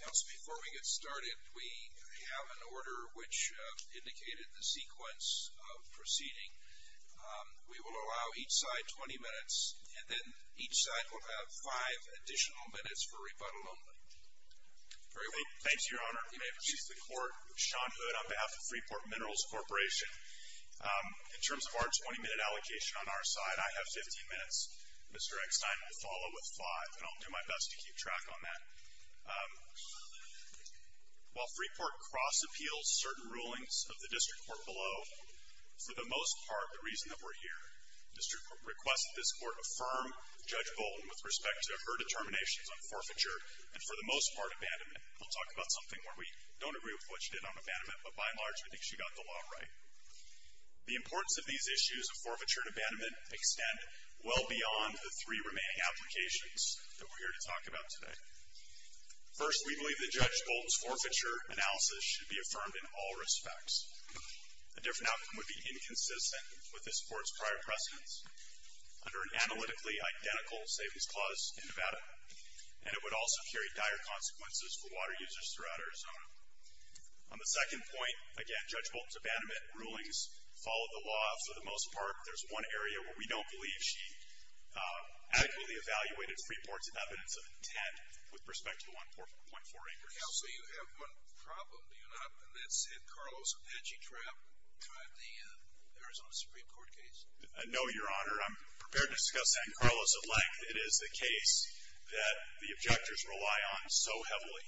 Council, before we get started we have an order which indicated the sequence of proceeding. We will allow each side 20 minutes and then each side will have five additional minutes for rebuttal only. Thank you, Your Honor. You may proceed to the court. Sean Hood on behalf of Freeport Minerals Corporation. In terms of our 20 minute allocation on our side, I have 15 minutes. Mr. Eckstein will follow with five and I'll do my best to keep track on that. While Freeport cross-appeals certain rulings of the district court below, for the most part the reason that we're here, the district court requested this court affirm Judge Bolton with respect to her determinations on forfeiture and for the most part abandonment. We'll talk about something where we don't agree with what she did on abandonment, but by and large we think she got the law right. The importance of these issues of forfeiture and abandonment extend well beyond the three remaining applications that we're here to talk about today. First, we believe that Judge Bolton's forfeiture analysis should be affirmed in all respects. A different outcome would be inconsistent with this court's prior precedents, under an analytically identical savings clause in Nevada, and it would also carry dire consequences for water users throughout Arizona. On the second point, again Judge Bolton's abandonment rulings follow the most part. There's one area where we don't believe she actually evaluated Freeport's evidence of intent with respect to the 1.4 acres. Counsel, you have one problem, do you not, and that's San Carlos Apache trap throughout the Arizona Supreme Court case? No, Your Honor. I'm prepared to discuss San Carlos at length. It is the case that the objectors rely on so heavily,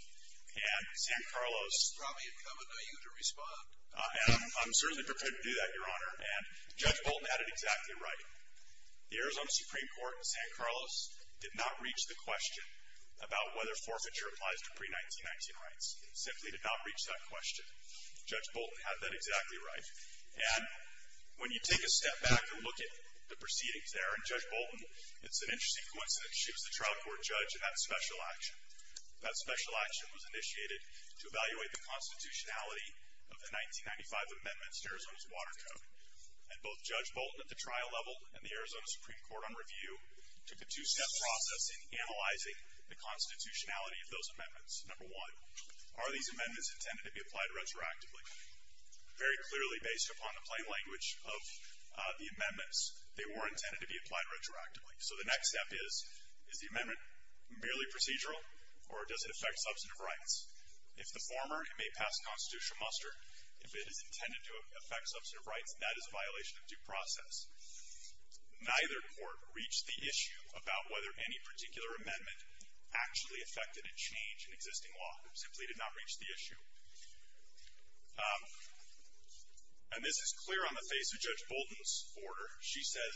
and San Carlos... It's probably incumbent on you to respond. I'm certainly prepared to do that, Your Honor, and Judge Bolton had it exactly right. The Arizona Supreme Court in San Carlos did not reach the question about whether forfeiture applies to pre-1919 rights. It simply did not reach that question. Judge Bolton had that exactly right, and when you take a step back and look at the proceedings there, and Judge Bolton, it's an interesting coincidence she was the trial court judge in that special action. That special action was initiated to Arizona's Water Code, and both Judge Bolton at the trial level and the Arizona Supreme Court on review took a two-step process in analyzing the constitutionality of those amendments. Number one, are these amendments intended to be applied retroactively? Very clearly, based upon the plain language of the amendments, they were intended to be applied retroactively. So the next step is, is the amendment merely procedural, or does it affect substantive rights? If the former, it may pass constitutional muster. If it is intended to affect substantive rights, that is a violation of due process. Neither court reached the issue about whether any particular amendment actually affected a change in existing law. It simply did not reach the issue. And this is clear on the face of Judge Bolton's order. She says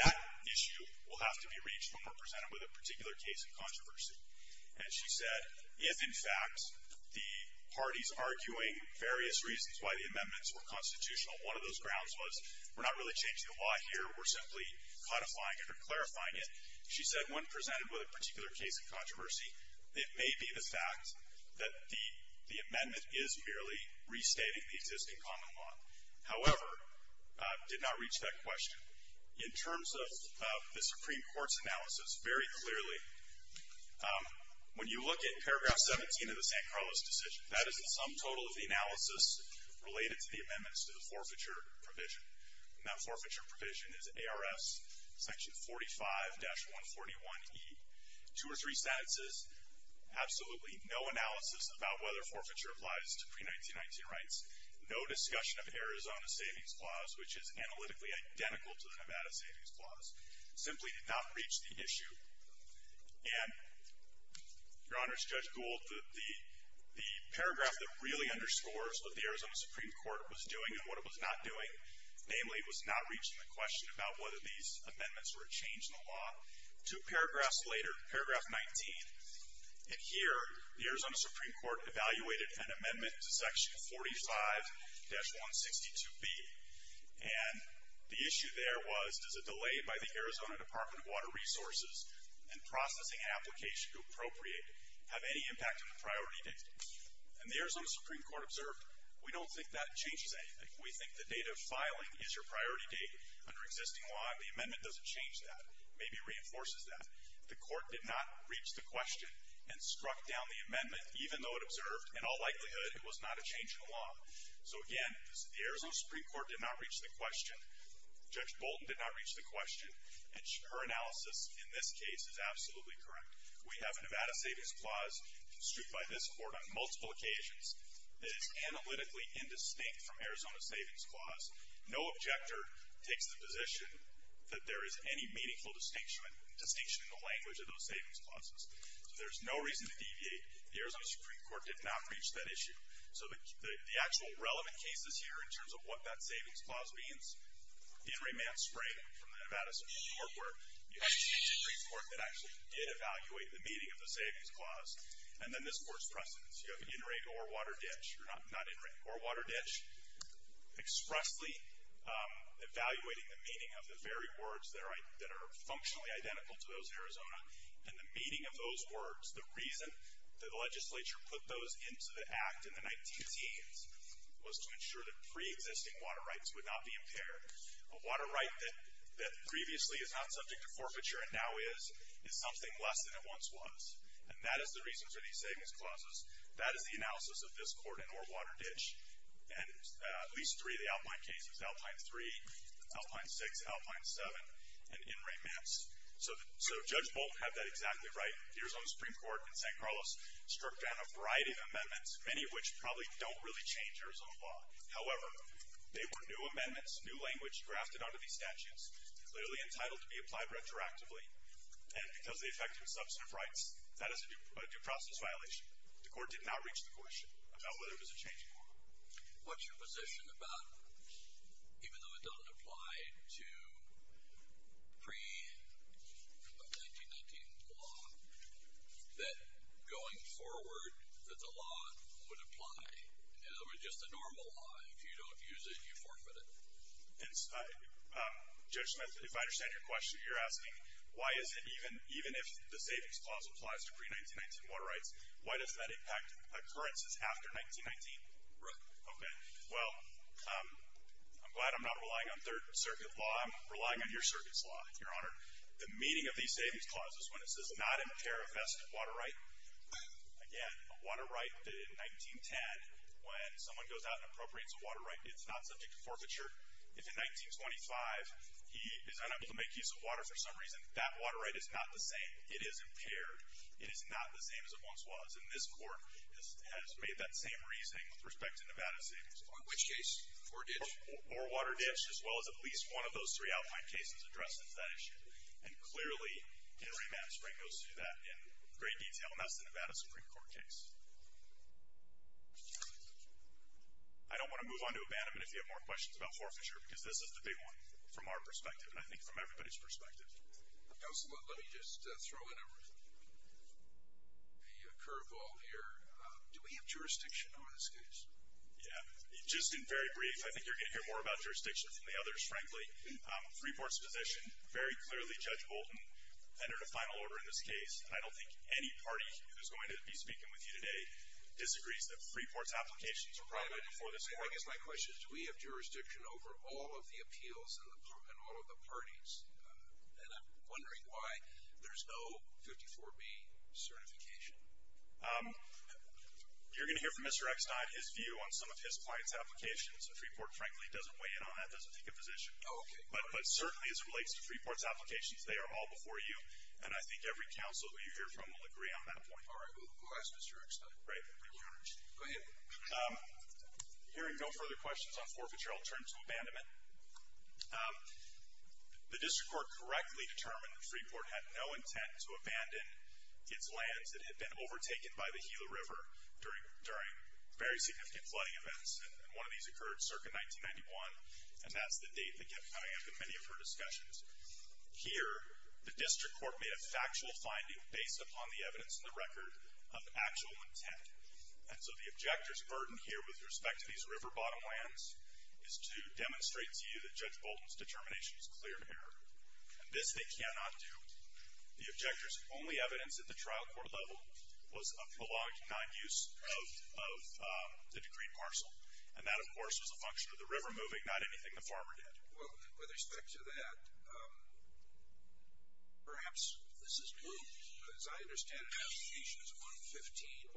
that issue will have to be reached when represented with a particular case of controversy. And she said, if, in fact, the parties arguing various reasons why the amendments were constitutional, one of those grounds was, we're not really changing the law here, we're simply codifying it or clarifying it. She said when presented with a particular case of controversy, it may be the fact that the amendment is merely restating the existing common law. However, did not reach that question. In terms of the Supreme Court's analysis, very clearly, when you look at paragraph 17 of the San Carlos decision, that is the sum total of the analysis related to the amendments to the forfeiture provision. And that forfeiture provision is ARS section 45-141E. Two or three sentences, absolutely no analysis about whether forfeiture applies to pre-1919 rights, no discussion of Arizona Savings Clause, which is analytically identical to the And, Your Honor's Judge Gould, the paragraph that really underscores what the Arizona Supreme Court was doing and what it was not doing, namely, was not reaching the question about whether these amendments were a change in the law. Two paragraphs later, paragraph 19, and here, the Arizona Supreme Court evaluated an amendment to section 45-162B. And the issue there was, does it delay by the process and processing application to appropriate have any impact on the priority date? And the Arizona Supreme Court observed, we don't think that changes anything. We think the date of filing is your priority date under existing law. The amendment doesn't change that. Maybe reinforces that. The court did not reach the question and struck down the amendment, even though it observed, in all likelihood, it was not a change in the law. So again, the Arizona Supreme Court did not reach the question. Judge Bolton did not reach the question. And her analysis in this case is absolutely correct. We have a Nevada Savings Clause construed by this Court on multiple occasions that is analytically indistinct from Arizona Savings Clause. No objector takes the position that there is any meaningful distinction in the language of those savings clauses. So there's no reason to deviate. The Arizona Supreme Court did not reach that issue. So the actual relevant cases here, in terms of what that savings clause means, the In Re Manspray from the Nevada Supreme Court, where you have a two-degree court that actually did evaluate the meaning of the savings clause, and then this Court's precedence. You have In Re Ore Water Ditch, or not In Re, Ore Water Ditch, expressly evaluating the meaning of the very words that are functionally identical to those Arizona, and the meaning of those words, the reason that the legislature put those into the Act in the 19-teens was to ensure that pre-existing water rights would not be impaired. A water right that previously is not subject to forfeiture and now is, is something less than it once was. And that is the reason for these savings clauses. That is the analysis of this Court in Ore Water Ditch, and at least three of the Alpine cases, Alpine 3, Alpine 6, Alpine 7, and In Re Mans. So Judge Bolton had that exactly right. The Arizona Supreme Court in San Carlos struck down a variety of amendments, many of which probably don't really change Arizona law. However, they were new amendments, new language grafted onto these statutes, literally entitled to be applied retroactively, and because they affected substantive rights, that is a due process violation. The Court did not reach the question about whether it was a change in law. What's your position about, even though it doesn't apply to pre-1919 law, that going forward, that the law would apply? In other words, just the normal law. If you don't use it, you forfeit it. Judge Smith, if I understand your question, you're asking, why is it even, even if the savings clause applies to pre-1919 water rights, why does that impact occurrences after 1919? Right. Okay. Well, I'm glad I'm not relying on Third Circuit law. I'm relying on your Circuit's law, Your Honor. The meaning of these savings clauses, when it says, not impair a vested water right, again, a water right in 1910, when someone goes out and appropriates a water right, it's not subject to forfeiture. If in 1925, he is unable to make use of water for some reason, that water right is not the same. It is impaired. It is not the same as it once was, and this Court has made that same reasoning with respect to Nevada savings. On which case? Poor ditch? Poor water ditch, as well as at least one of those three Alpine cases addressing that issue. And clearly, Henry Madden Spring goes through that in great detail, and that's the Nevada Supreme Court case. I don't want to move on to abandonment if you have more questions about forfeiture, because this is the big one from our perspective, and I think from everybody's perspective. Counsel, let me just throw in a curve ball here. Do we have jurisdiction on this case? Yeah. Just in very brief, I think you're going to hear more about jurisdiction than the others, frankly. Freeport's position very clearly, Judge Bolton, entered a final order in this case, and I don't think any party who is going to be speaking with you today disagrees that Freeport's applications are private before this Court. I guess my question is, do we have jurisdiction over all of the appeals and all of the parties? And I'm wondering why there's no 54B certification. You're going to hear from Mr. Eckstein his view on some of his client's applications, and Freeport, frankly, doesn't weigh in on that, doesn't take a position. Oh, okay. But certainly as it relates to Freeport's applications, they are all before you, and I think every counsel who you hear from will agree on that point. All right. We'll ask Mr. Eckstein. Right. Go ahead. Hearing no further questions on forfeiture, I'll turn to abandonment. The District Court correctly determined that Freeport had no intent to abandon its lands that had been overtaken by the Gila River during very significant flooding events, and one of these occurred circa 1991, and that's the date that kept coming up in many of her discussions. Here, the District Court made a factual finding based upon the evidence in the record of actual intent, and so the objector's burden here with respect to these river bottom lands is to demonstrate to you that Judge Bolton's determination is clear of error, and this they cannot do. The objector's only evidence at the trial court level was a prologue to non-use of the decreeed parcel, and that, of course, was a function of the river moving, not anything the farmer did. Well, with respect to that, perhaps this is new. As I understand it, Issues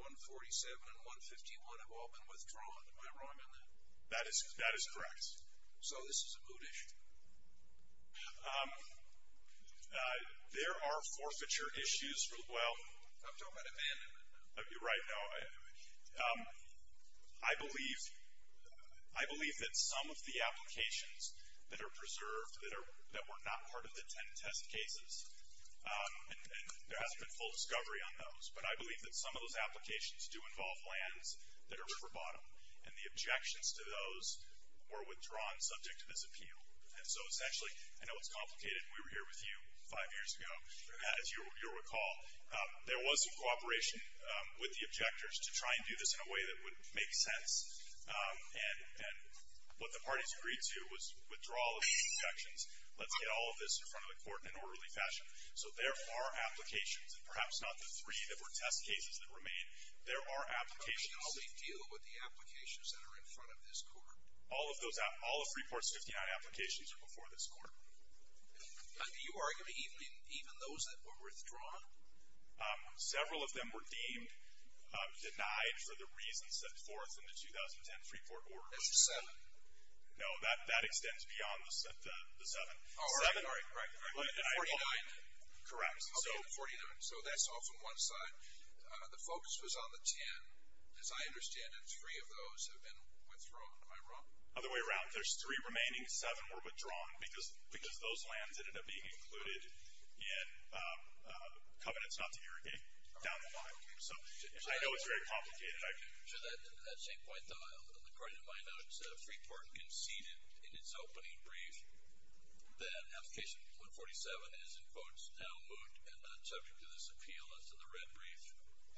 115, 147, and 151 have all been withdrawn. Am I wrong on that? That is correct. So this is a move issue. There are forfeiture issues. I'm talking about abandonment. You're right. I believe that some of the applications that are preserved that were not part of the 10 test cases, and there hasn't been full discovery on those, but I believe that some of those applications do involve lands that are river bottom, and the objections to those were withdrawn subject to this appeal. And so, essentially, I know it's complicated. We were here with you five years ago, as you recall. There was cooperation with the objectors to try and do this in a way that would make sense, and what the parties agreed to was withdrawal of the objections. Let's get all of this in front of the court in an orderly fashion. So there are applications, and perhaps not the three that were test cases that remain. There are applications. How do we deal with the applications that are in front of this court? All of Freeport's 59 applications are before this court. Do you argue even those that were withdrawn? Several of them were deemed denied for the reasons set forth in the 2010 Freeport order. That's the seven? No, that extends beyond the seven. Oh, all right, all right, correct. The 49? Correct. Okay, the 49. So that's off on one side. The focus was on the 10. As I understand it, three of those have been withdrawn. Am I wrong? Other way around. In fact, there's three remaining. Seven were withdrawn because those lands ended up being included in covenants not to irrigate down the line. So I know it's very complicated. Should I change my thought? According to my notes, Freeport conceded in its opening brief that application 147 is, in quotes, now moot and not subject to this appeal as to the red brief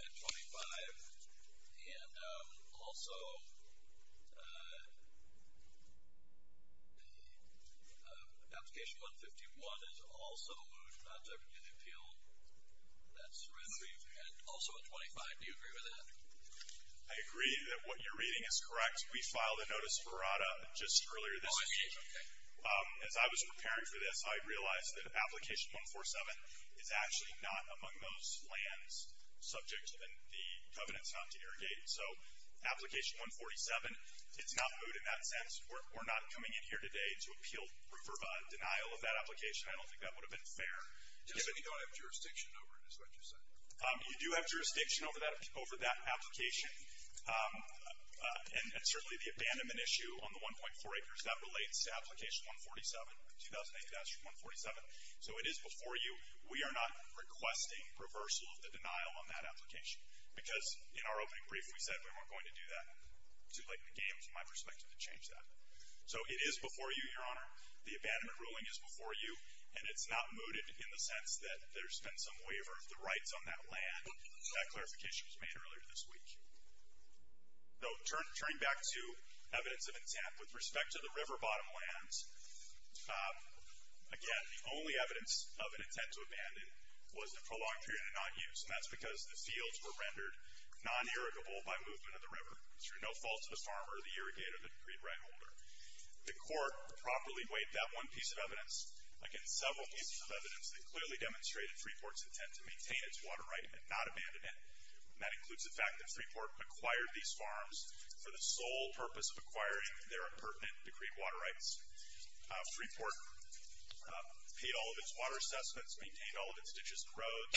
at 25. And also application 151 is also moot, not subject to the appeal, that's red brief, and also at 25. Do you agree with that? I agree that what you're reading is correct. We filed a notice of errata just earlier this week. As I was preparing for this, I realized that application 147 is actually not among those lands subject to the covenants not to irrigate. So application 147, it's not moot in that sense. We're not coming in here today to appeal for denial of that application. I don't think that would have been fair. So you don't have jurisdiction over it is what you're saying? You do have jurisdiction over that application. And certainly the abandonment issue on the 1.4 acres, that relates to application 147. 2008, that's 147. So it is before you. We are not requesting reversal of the denial on that application. Because in our opening brief, we said we weren't going to do that. Too late in the game, from my perspective, to change that. So it is before you, Your Honor. The abandonment ruling is before you. And it's not mooted in the sense that there's been some waiver of the rights on that land. That clarification was made earlier this week. So turning back to evidence of intent, with respect to the river bottom lands, again, the only evidence of an intent to abandon was the prolonged period of not use. And that's because the fields were rendered non-irrigable by movement of the river, through no fault of the farmer, the irrigator, the decreed right holder. The court properly weighed that one piece of evidence against several pieces of evidence that clearly demonstrated Freeport's intent to maintain its water right and not abandon it. And that includes the fact that Freeport acquired these farms for the sole purpose of acquiring their impertinent decreed water rights. Freeport paid all of its water assessments, maintained all of its ditches and roads,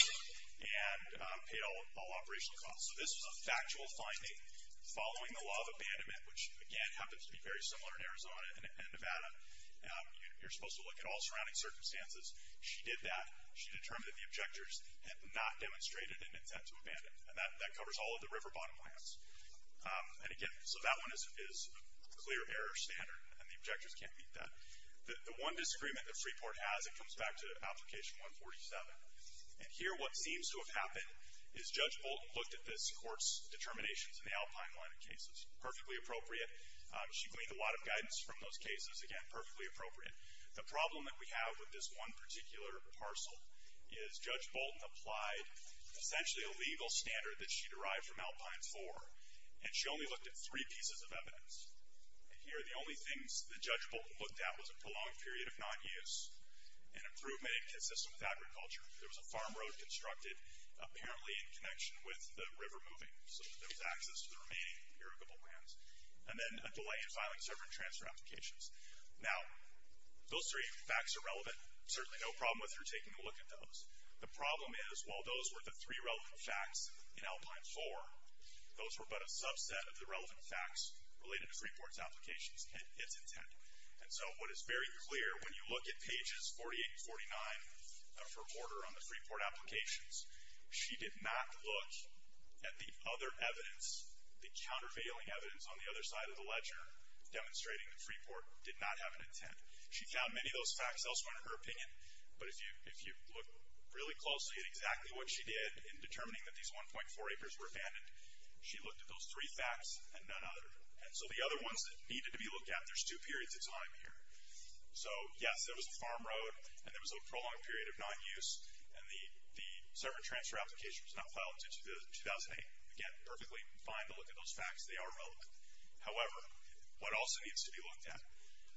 and paid all operation costs. So this was a factual finding following the law of abandonment, which, again, happens to be very similar in Arizona and Nevada. You're supposed to look at all surrounding circumstances. She did that. She determined that the objectors had not demonstrated an intent to abandon. And that covers all of the river bottom lands. And, again, so that one is a clear error standard, and the objectors can't beat that. The one disagreement that Freeport has, it comes back to Application 147. And here what seems to have happened is Judge Bolt looked at this court's determinations in the Alpine line of cases. Perfectly appropriate. She gleaned a lot of guidance from those cases. Again, perfectly appropriate. The problem that we have with this one particular parcel is Judge Bolton applied essentially a legal standard that she derived from Alpine 4, and she only looked at three pieces of evidence. And here the only things that Judge Bolton looked at was a prolonged period of non-use, an improvement inconsistent with agriculture. There was a farm road constructed, apparently in connection with the river moving, so that there was access to the remaining irrigable lands. And then a delay in filing server and transfer applications. Now, those three facts are relevant. Certainly no problem with her taking a look at those. The problem is while those were the three relevant facts in Alpine 4, those were but a subset of the relevant facts related to Freeport's applications and its intent. And so what is very clear when you look at pages 48 and 49 of her order on the Freeport applications, she did not look at the other evidence, the countervailing evidence on the other side of the ledger demonstrating that Freeport did not have an intent. She found many of those facts elsewhere in her opinion, but if you look really closely at exactly what she did in determining that these 1.4 acres were abandoned, she looked at those three facts and none other. And so the other ones that needed to be looked at, there's two periods of time here. So, yes, there was a farm road, and there was a prolonged period of non-use, and the server and transfer application was not filed until 2008. Again, perfectly fine to look at those facts. They are relevant. However, what also needs to be looked at,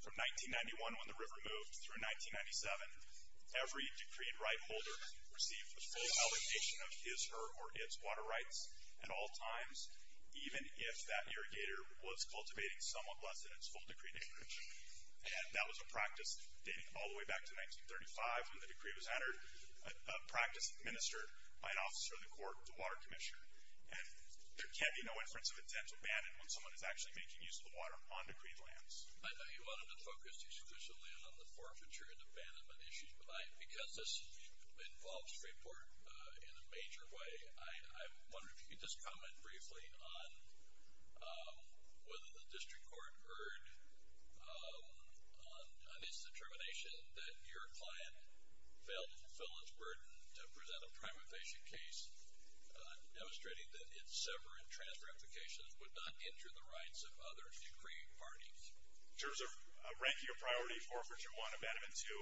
from 1991 when the river moved through 1997, every decreed right holder received the full allocation of his, her, or its water rights at all times, even if that irrigator was cultivating somewhat less than its full decreed acreage. And that was a practice dating all the way back to 1935 when the decree was entered, a practice administered by an officer of the court, the water commissioner. And there can be no inference of intent to abandon when someone is actually making use of the water on decreed lands. I know you wanted to focus exclusively on the forfeiture and abandonment issues, but because this involves Freeport in a major way, I wonder if you could just comment briefly on whether the district court heard on its determination that your client failed to fulfill its burden to present a prime infatuation case, demonstrating that its server and transfer applications would not injure the rights of other decreed parties. In terms of ranking a priority, forfeiture one, abandonment two,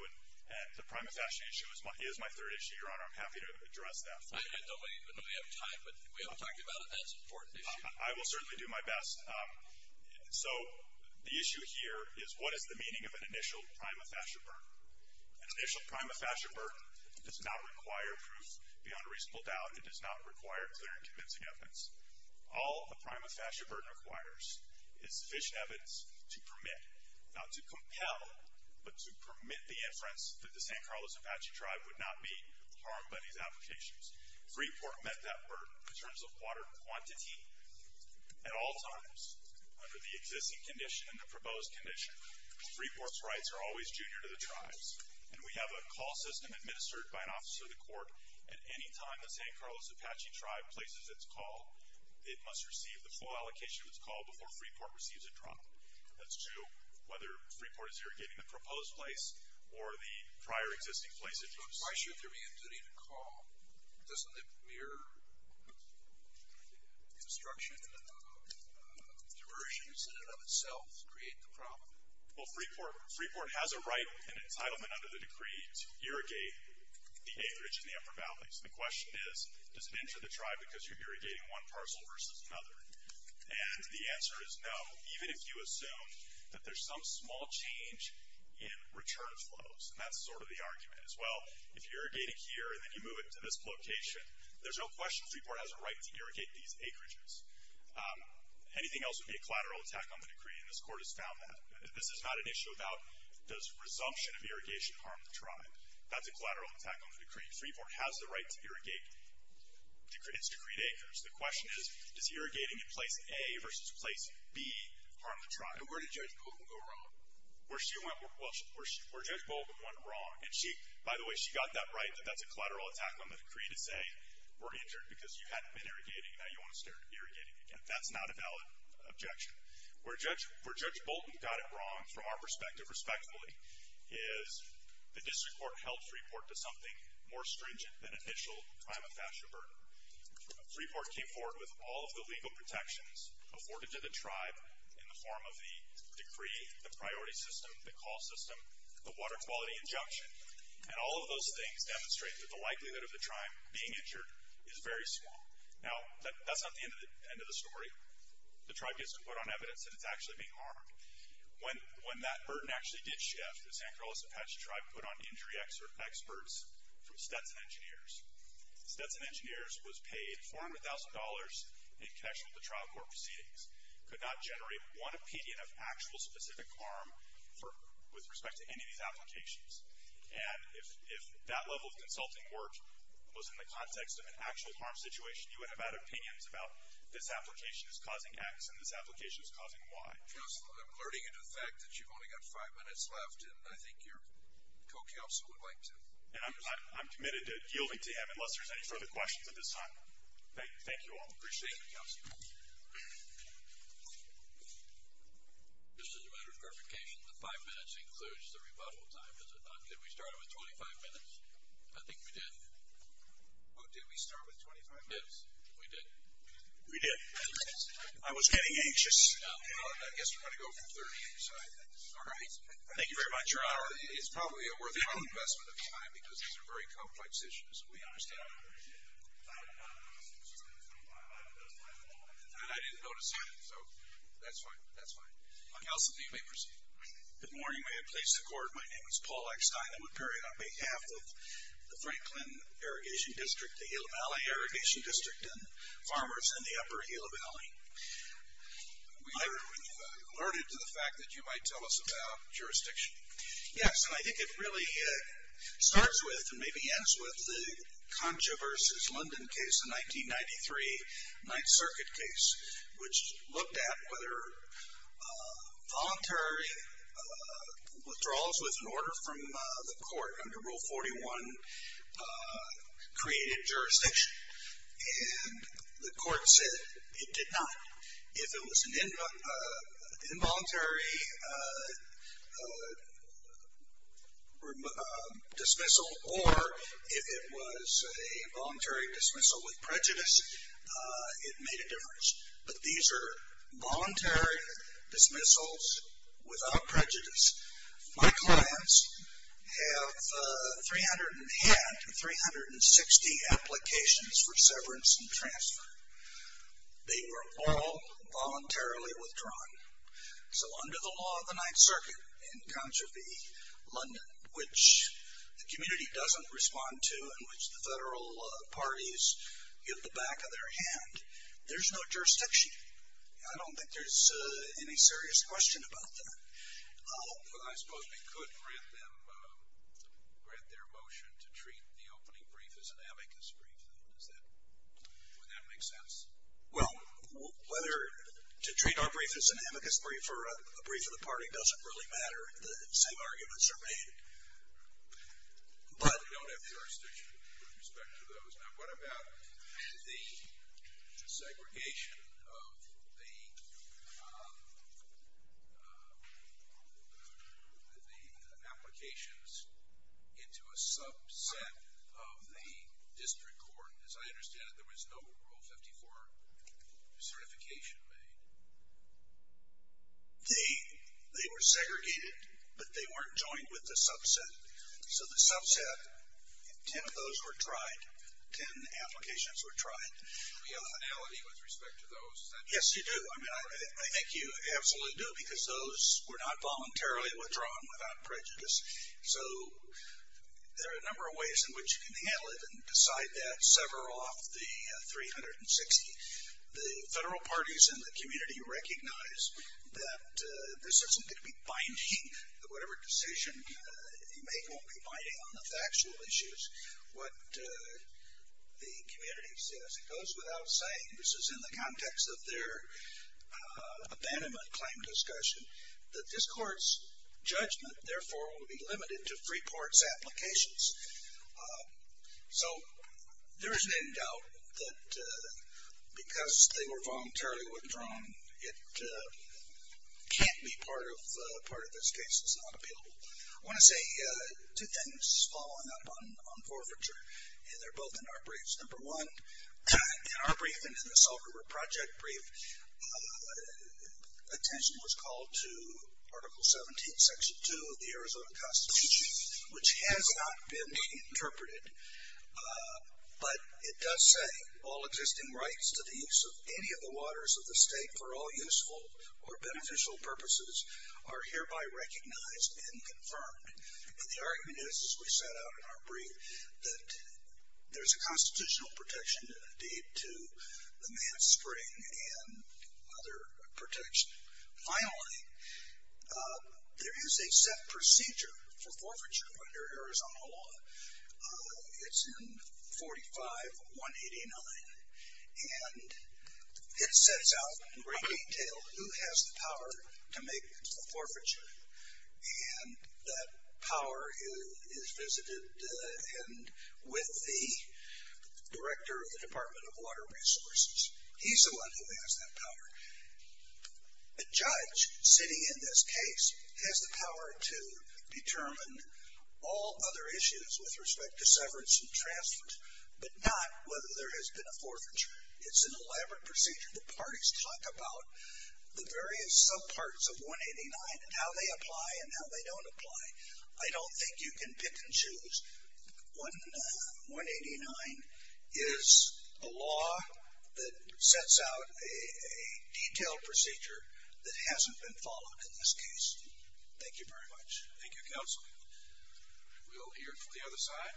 and the prime infatuation issue is my third issue, Your Honor. I'm happy to address that. I don't even know we have time, but we have time to talk about it. That's an important issue. I will certainly do my best. So the issue here is what is the meaning of an initial prime infatuation burden? An initial prime infatuation burden does not require proof beyond a reasonable doubt. It does not require clear and convincing evidence. All a prime infatuation burden requires is sufficient evidence to permit, not to compel, but to permit the inference that the San Carlos Apache Tribe would not be harmed by these applications. Freeport met that burden in terms of water quantity at all times under the existing condition and the proposed condition. Freeport's rights are always junior to the tribe's, and we have a call system administered by an officer of the court at any time the San Carlos Apache Tribe places its call. It must receive the full allocation of its call before Freeport receives a drop. That's true whether Freeport is irrigating the proposed place or the prior existing place of use. So why should there be a duty to call? Doesn't the mere construction of diversions in and of itself create the problem? Well, Freeport has a right and entitlement under the decree to irrigate the acreage in the upper valleys. The question is, does it injure the tribe because you're irrigating one parcel versus another? And the answer is no, even if you assume that there's some small change in return flows. And that's sort of the argument as well. If you're irrigating here and then you move it to this location, there's no question Freeport has a right to irrigate these acreages. Anything else would be a collateral attack on the decree, and this Court has found that. This is not an issue about does resumption of irrigation harm the tribe. That's a collateral attack on the decree. Freeport has the right to irrigate its decreed acres. The question is, does irrigating in place A versus place B harm the tribe? And where did Judge Bolton go wrong? Where Judge Bolton went wrong, and she, by the way, she got that right that that's a collateral attack on the decree to say we're injured because you hadn't been irrigating and now you want to start irrigating again. That's not a valid objection. Where Judge Bolton got it wrong, from our perspective, respectfully, is the district court held Freeport to something more stringent than initial crime of pasture burden. Freeport came forward with all of the legal protections afforded to the tribe in the form of the decree, the priority system, the call system, the water quality injunction, and all of those things demonstrate that the likelihood of the tribe being injured is very small. Now, that's not the end of the story. The tribe gets to put on evidence that it's actually being harmed. When that burden actually did shift, the San Carlos Apache tribe put on injury experts from Stetson Engineers. Stetson Engineers was paid $400,000 in connection with the trial court proceedings, could not generate one opinion of actual specific harm with respect to any of these applications. And if that level of consulting work was in the context of an actual harm situation, you would have had opinions about this application is causing X and this application is causing Y. Counselor, I'm alerting you to the fact that you've only got five minutes left, and I think your co-counsel would like to. And I'm committed to yielding to him unless there's any further questions at this time. Thank you all. Appreciate it, Counselor. Just as a matter of clarification, the five minutes includes the rebuttal time, does it not? Did we start with 25 minutes? I think we did. Oh, did we start with 25 minutes? Yes, we did. We did. I was getting anxious. I guess we're going to go for 30. All right. Thank you very much. It's probably a worthwhile investment of time because these are very complex issues, and we understand that. And I didn't notice either, so that's fine. That's fine. Counsel, if you may proceed. Good morning. May it please the Court, my name is Paul Eckstein. I would bear it on behalf of the Franklin Irrigation District, the Gila Valley Irrigation District, and farmers in the upper Gila Valley. I'm alerted to the fact that you might tell us about jurisdiction. Yes, and I think it really starts with and maybe ends with the Concha v. London case, the 1993 Ninth Circuit case, which looked at whether voluntary withdrawals with an order from the court under Rule 41 created jurisdiction. And the court said it did not. If it was an involuntary dismissal or if it was a voluntary dismissal with prejudice, it made a difference. But these are voluntary dismissals without prejudice. My clients have had 360 applications for severance and transfer. They were all voluntarily withdrawn. So under the law of the Ninth Circuit in Concha v. London, which the community doesn't respond to and which the federal parties give the back of their hand, there's no jurisdiction. I don't think there's any serious question about that. I suppose we could grant them, grant their motion to treat the opening brief as an amicus brief. Would that make sense? Well, whether to treat our brief as an amicus brief or a brief of the party doesn't really matter. The same arguments are made. But we don't have jurisdiction with respect to those. Now, what about the segregation of the applications into a subset of the district court? As I understand it, there was no Rule 54 certification made. They were segregated, but they weren't joined with the subset. So the subset, 10 of those were tried, 10 applications were tried. Do we have a finality with respect to those? Yes, you do. I mean, I think you absolutely do because those were not voluntarily withdrawn without prejudice. So there are a number of ways in which you can handle it and decide that, sever off the 360. The federal parties in the community recognize that this isn't going to be binding. Whatever decision you make won't be binding on the factual issues, what the community says. It goes without saying, this is in the context of their abandonment claim discussion, that this court's judgment, therefore, will be limited to three-parts applications. So there's been doubt that because they were voluntarily withdrawn, it can't be part of this case. It's not appealable. I want to say two things following up on forfeiture, and they're both in our briefs. Number one, in our brief and in the Salt River Project brief, attention was called to Article 17, Section 2 of the Arizona Constitution, which has not been interpreted, but it does say, all existing rights to the use of any of the waters of the state for all useful or beneficial purposes are hereby recognized and confirmed. And the argument is, as we set out in our brief, that there's a constitutional protection, indeed, to the Manne Spring and other protection. Finally, there is a set procedure for forfeiture under Arizona law. It's in 45-189, and it sets out in great detail who has the power to make a forfeiture. And that power is visited with the director of the Department of Water Resources. He's the one who has that power. A judge sitting in this case has the power to determine all other issues with respect to severance and transfers, but not whether there has been a forfeiture. It's an elaborate procedure. The parties talk about the various subparts of 189 and how they apply and how they don't apply. I don't think you can pick and choose. 189 is a law that sets out a detailed procedure that hasn't been followed in this case. Thank you very much. Thank you, Counsel. We'll hear from the other side.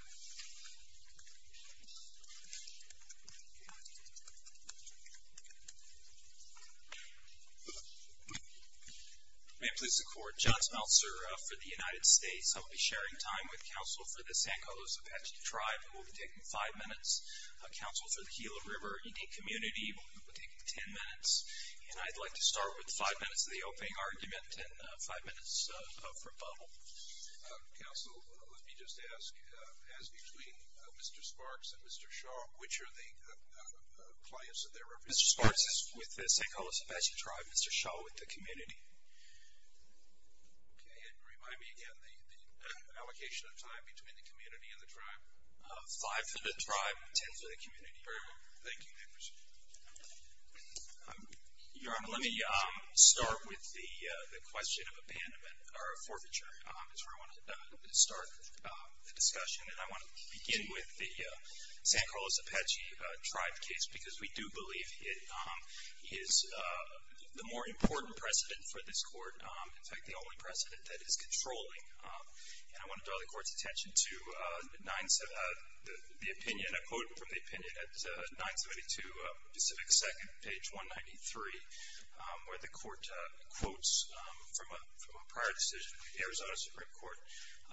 May it please the Court, John Smeltzer for the United States. I will be sharing time with Counsel for the San Carlos Apache Tribe, and we'll be taking five minutes. Counsel for the Gila River Indian Community, we'll be taking ten minutes. And I'd like to start with five minutes of the opening argument and five minutes of rebuttal. Counsel, let me just ask, as between Mr. Sparks and Mr. Shaw, which are the clients that they're representing? Mr. Sparks with the San Carlos Apache Tribe, Mr. Shaw with the community. Can you remind me again the allocation of time between the community and the tribe? Five for the tribe, ten for the community. Very well. Thank you. Your Honor, let me start with the question of abandonment or forfeiture. That's where I want to start the discussion, and I want to begin with the San Carlos Apache Tribe case because we do believe it is the more important precedent for this Court, in fact, the only precedent that it is controlling. And I want to draw the Court's attention to the opinion, a quote from the opinion at 972 Pacific 2nd, page 193, where the Court quotes from a prior decision of the Arizona Supreme Court.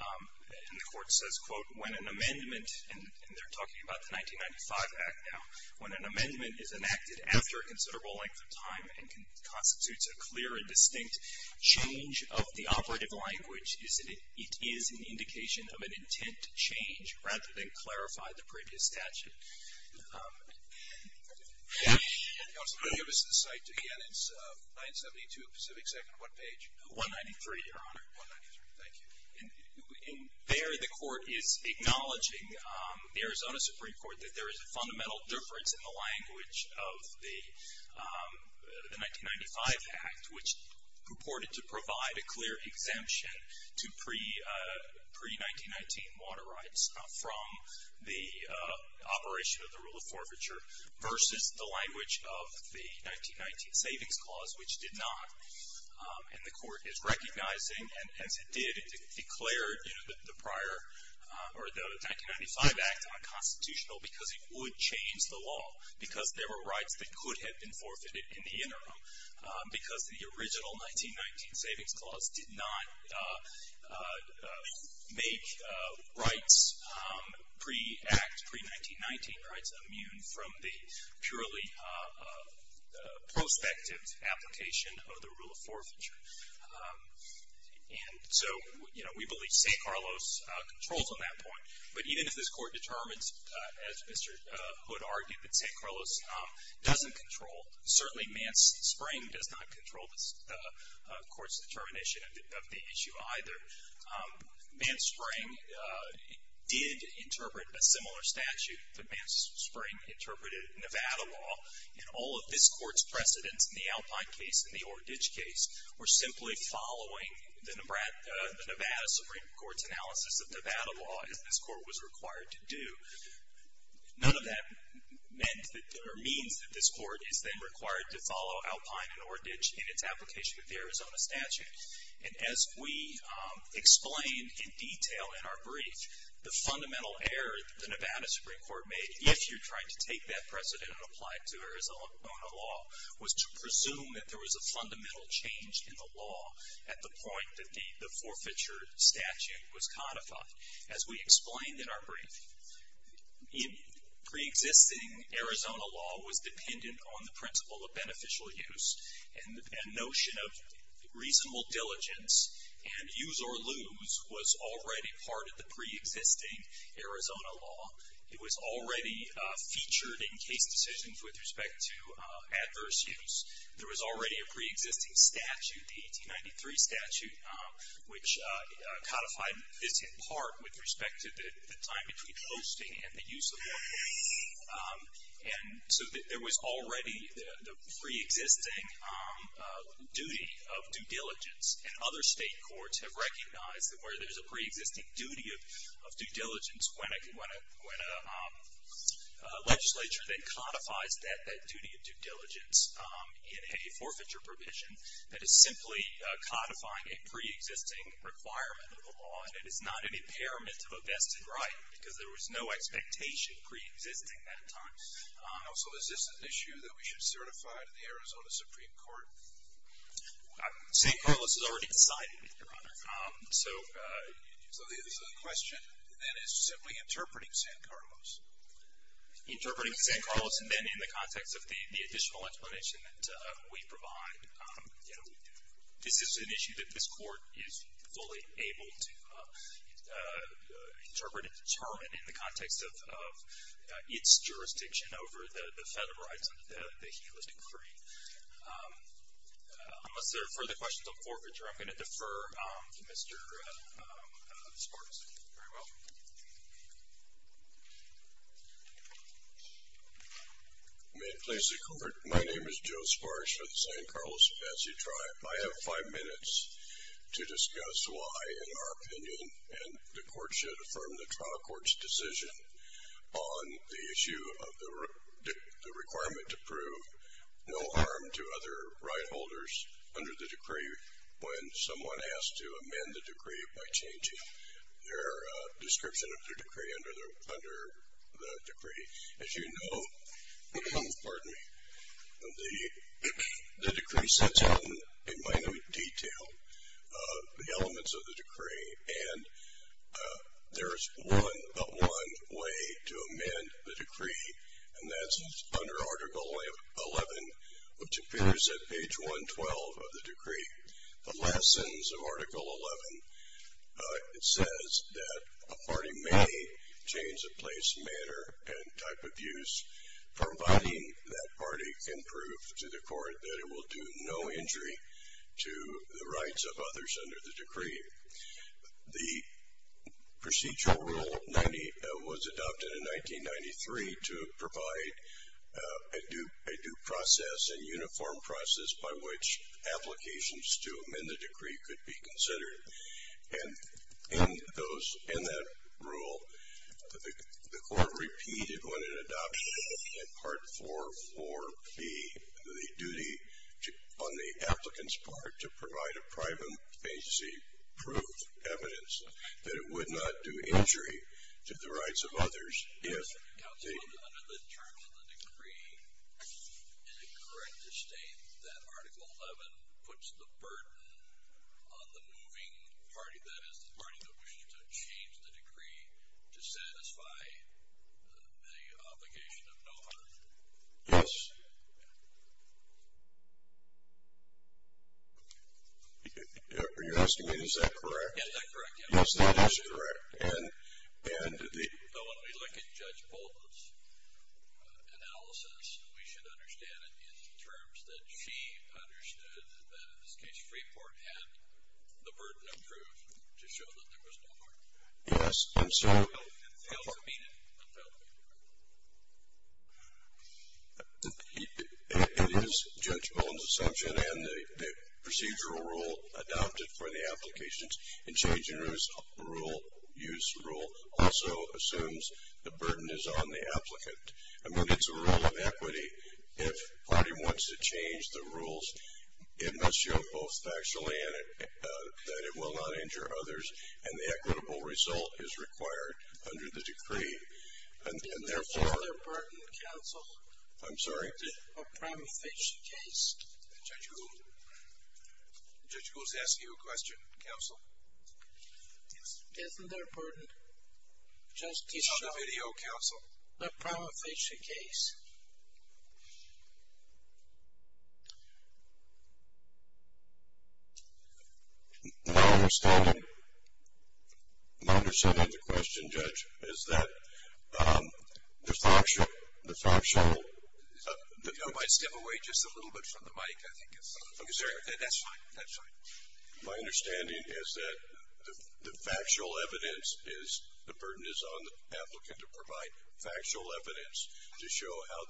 And the Court says, quote, when an amendment, and they're talking about the 1995 Act now, when an amendment is enacted after a considerable length of time and constitutes a clear and distinct change of the operative language, it is an indication of an intent to change rather than clarify the previous statute. Counsel, can you give us the site again? It's 972 Pacific 2nd, what page? 193, Your Honor. 193, thank you. And there the Court is acknowledging the Arizona Supreme Court that there is a fundamental difference in the language of the 1995 Act, which purported to provide a clear exemption to pre-1919 water rights from the operation of the rule of forfeiture, versus the language of the 1919 Savings Clause, which did not. And the Court is recognizing, and as it did, it declared, you know, the prior, or the 1995 Act unconstitutional because it would change the law, because there were rights that could have been forfeited in the interim, because the original 1919 Savings Clause did not make rights pre-Act, pre-1919 rights, immune from the purely prospective application of the rule of forfeiture. And so, you know, we believe St. Carlos controls on that point. But even if this Court determines, as Mr. Hood argued, that St. Carlos doesn't control, certainly Mance-Spring does not control the Court's determination of the issue either. Mance-Spring did interpret a similar statute, but Mance-Spring interpreted Nevada law, and all of this Court's precedents in the Alpine case and the Oreditch case were simply following the Nevada Supreme Court's analysis of Nevada law, as this Court was required to do. None of that meant, or means, that this Court is then required to follow Alpine and Oreditch in its application of the Arizona statute. And as we explained in detail in our brief, the fundamental error that the Nevada Supreme Court made, if you're trying to take that precedent and apply it to Arizona law, was to presume that there was a fundamental change in the law at the point that the forfeiture statute was codified. As we explained in our brief, pre-existing Arizona law was dependent on the principle of beneficial use and notion of reasonable diligence, and use or lose was already part of the pre-existing Arizona law. It was already featured in case decisions with respect to adverse use. There was already a pre-existing statute, the 1893 statute, which codified this in part with respect to the time between hosting and the use of the law. And so there was already the pre-existing duty of due diligence, and other state courts have recognized that where there's a pre-existing duty of due diligence, when a legislature then codifies that duty of due diligence in a forfeiture provision, that is simply codifying a pre-existing requirement of the law, and it is not an impairment of a vested right because there was no expectation pre-existing at the time. So is this an issue that we should certify to the Arizona Supreme Court? San Carlos has already decided, Your Honor. So the question then is simply interpreting San Carlos. Interpreting San Carlos, and then in the context of the additional explanation that we provide, this is an issue that this court is fully able to interpret and determine in the context of its jurisdiction over the federal rights that he would decree. Unless there are further questions on forfeiture, I'm going to defer to Mr. Sparks. You're very welcome. May it please the Court. My name is Joe Sparks with the San Carlos Apache Tribe. I have five minutes to discuss why, in our opinion, and the Court should affirm the trial court's decision on the issue of the requirement to prove no harm to other right holders under the decree when someone has to amend the decree by changing their description of the decree under the decree. As you know, the decree sets out in minute detail the elements of the decree, and there is but one way to amend the decree, and that's under Article 11, which appears at page 112 of the decree. The lessons of Article 11, it says that a party may change the place, manner, and type of use, providing that party can prove to the Court that it will do no injury to the rights of others under the decree. The procedural rule 90 was adopted in 1993 to provide a due process and uniform process by which applications to amend the decree could be considered. And in that rule, the Court repeated on an adoption in Part 4.4b the duty on the applicant's part to provide a private agency proof, evidence, that it would not do injury to the rights of others if they... Counsel, under the terms of the decree, is it correct to state that Article 11 puts the burden on the moving party, that is, the party that wishes to change the decree to satisfy the obligation of no harm? Yes. Are you asking me, is that correct? Is that correct, yes. Yes, that is correct. And the... So when we look at Judge Bolton's analysis, we should understand it in terms that she understood that in this case Freeport had the burden approved to show that there was no harm. Yes, and so... Counsel? It is Judge Bolton's assumption, and the procedural rule adopted for the applications and changing rule, use rule, also assumes the burden is on the applicant. I mean, it's a rule of equity. If a party wants to change the rules, it must show both factually that it will not injure others, and the equitable result is required under the decree. And therefore... Isn't there a burden, Counsel? I'm sorry? A prima facie case? Judge Gould? Judge Gould's asking you a question, Counsel? Yes. Isn't there a burden? It's not a video, Counsel. A prima facie case? My understanding... My understanding of the question, Judge, is that the factual... You know, if I step away just a little bit from the mic, I think it's... That's fine. That's fine. My understanding is that the factual evidence is the burden is on the applicant to provide factual evidence to show how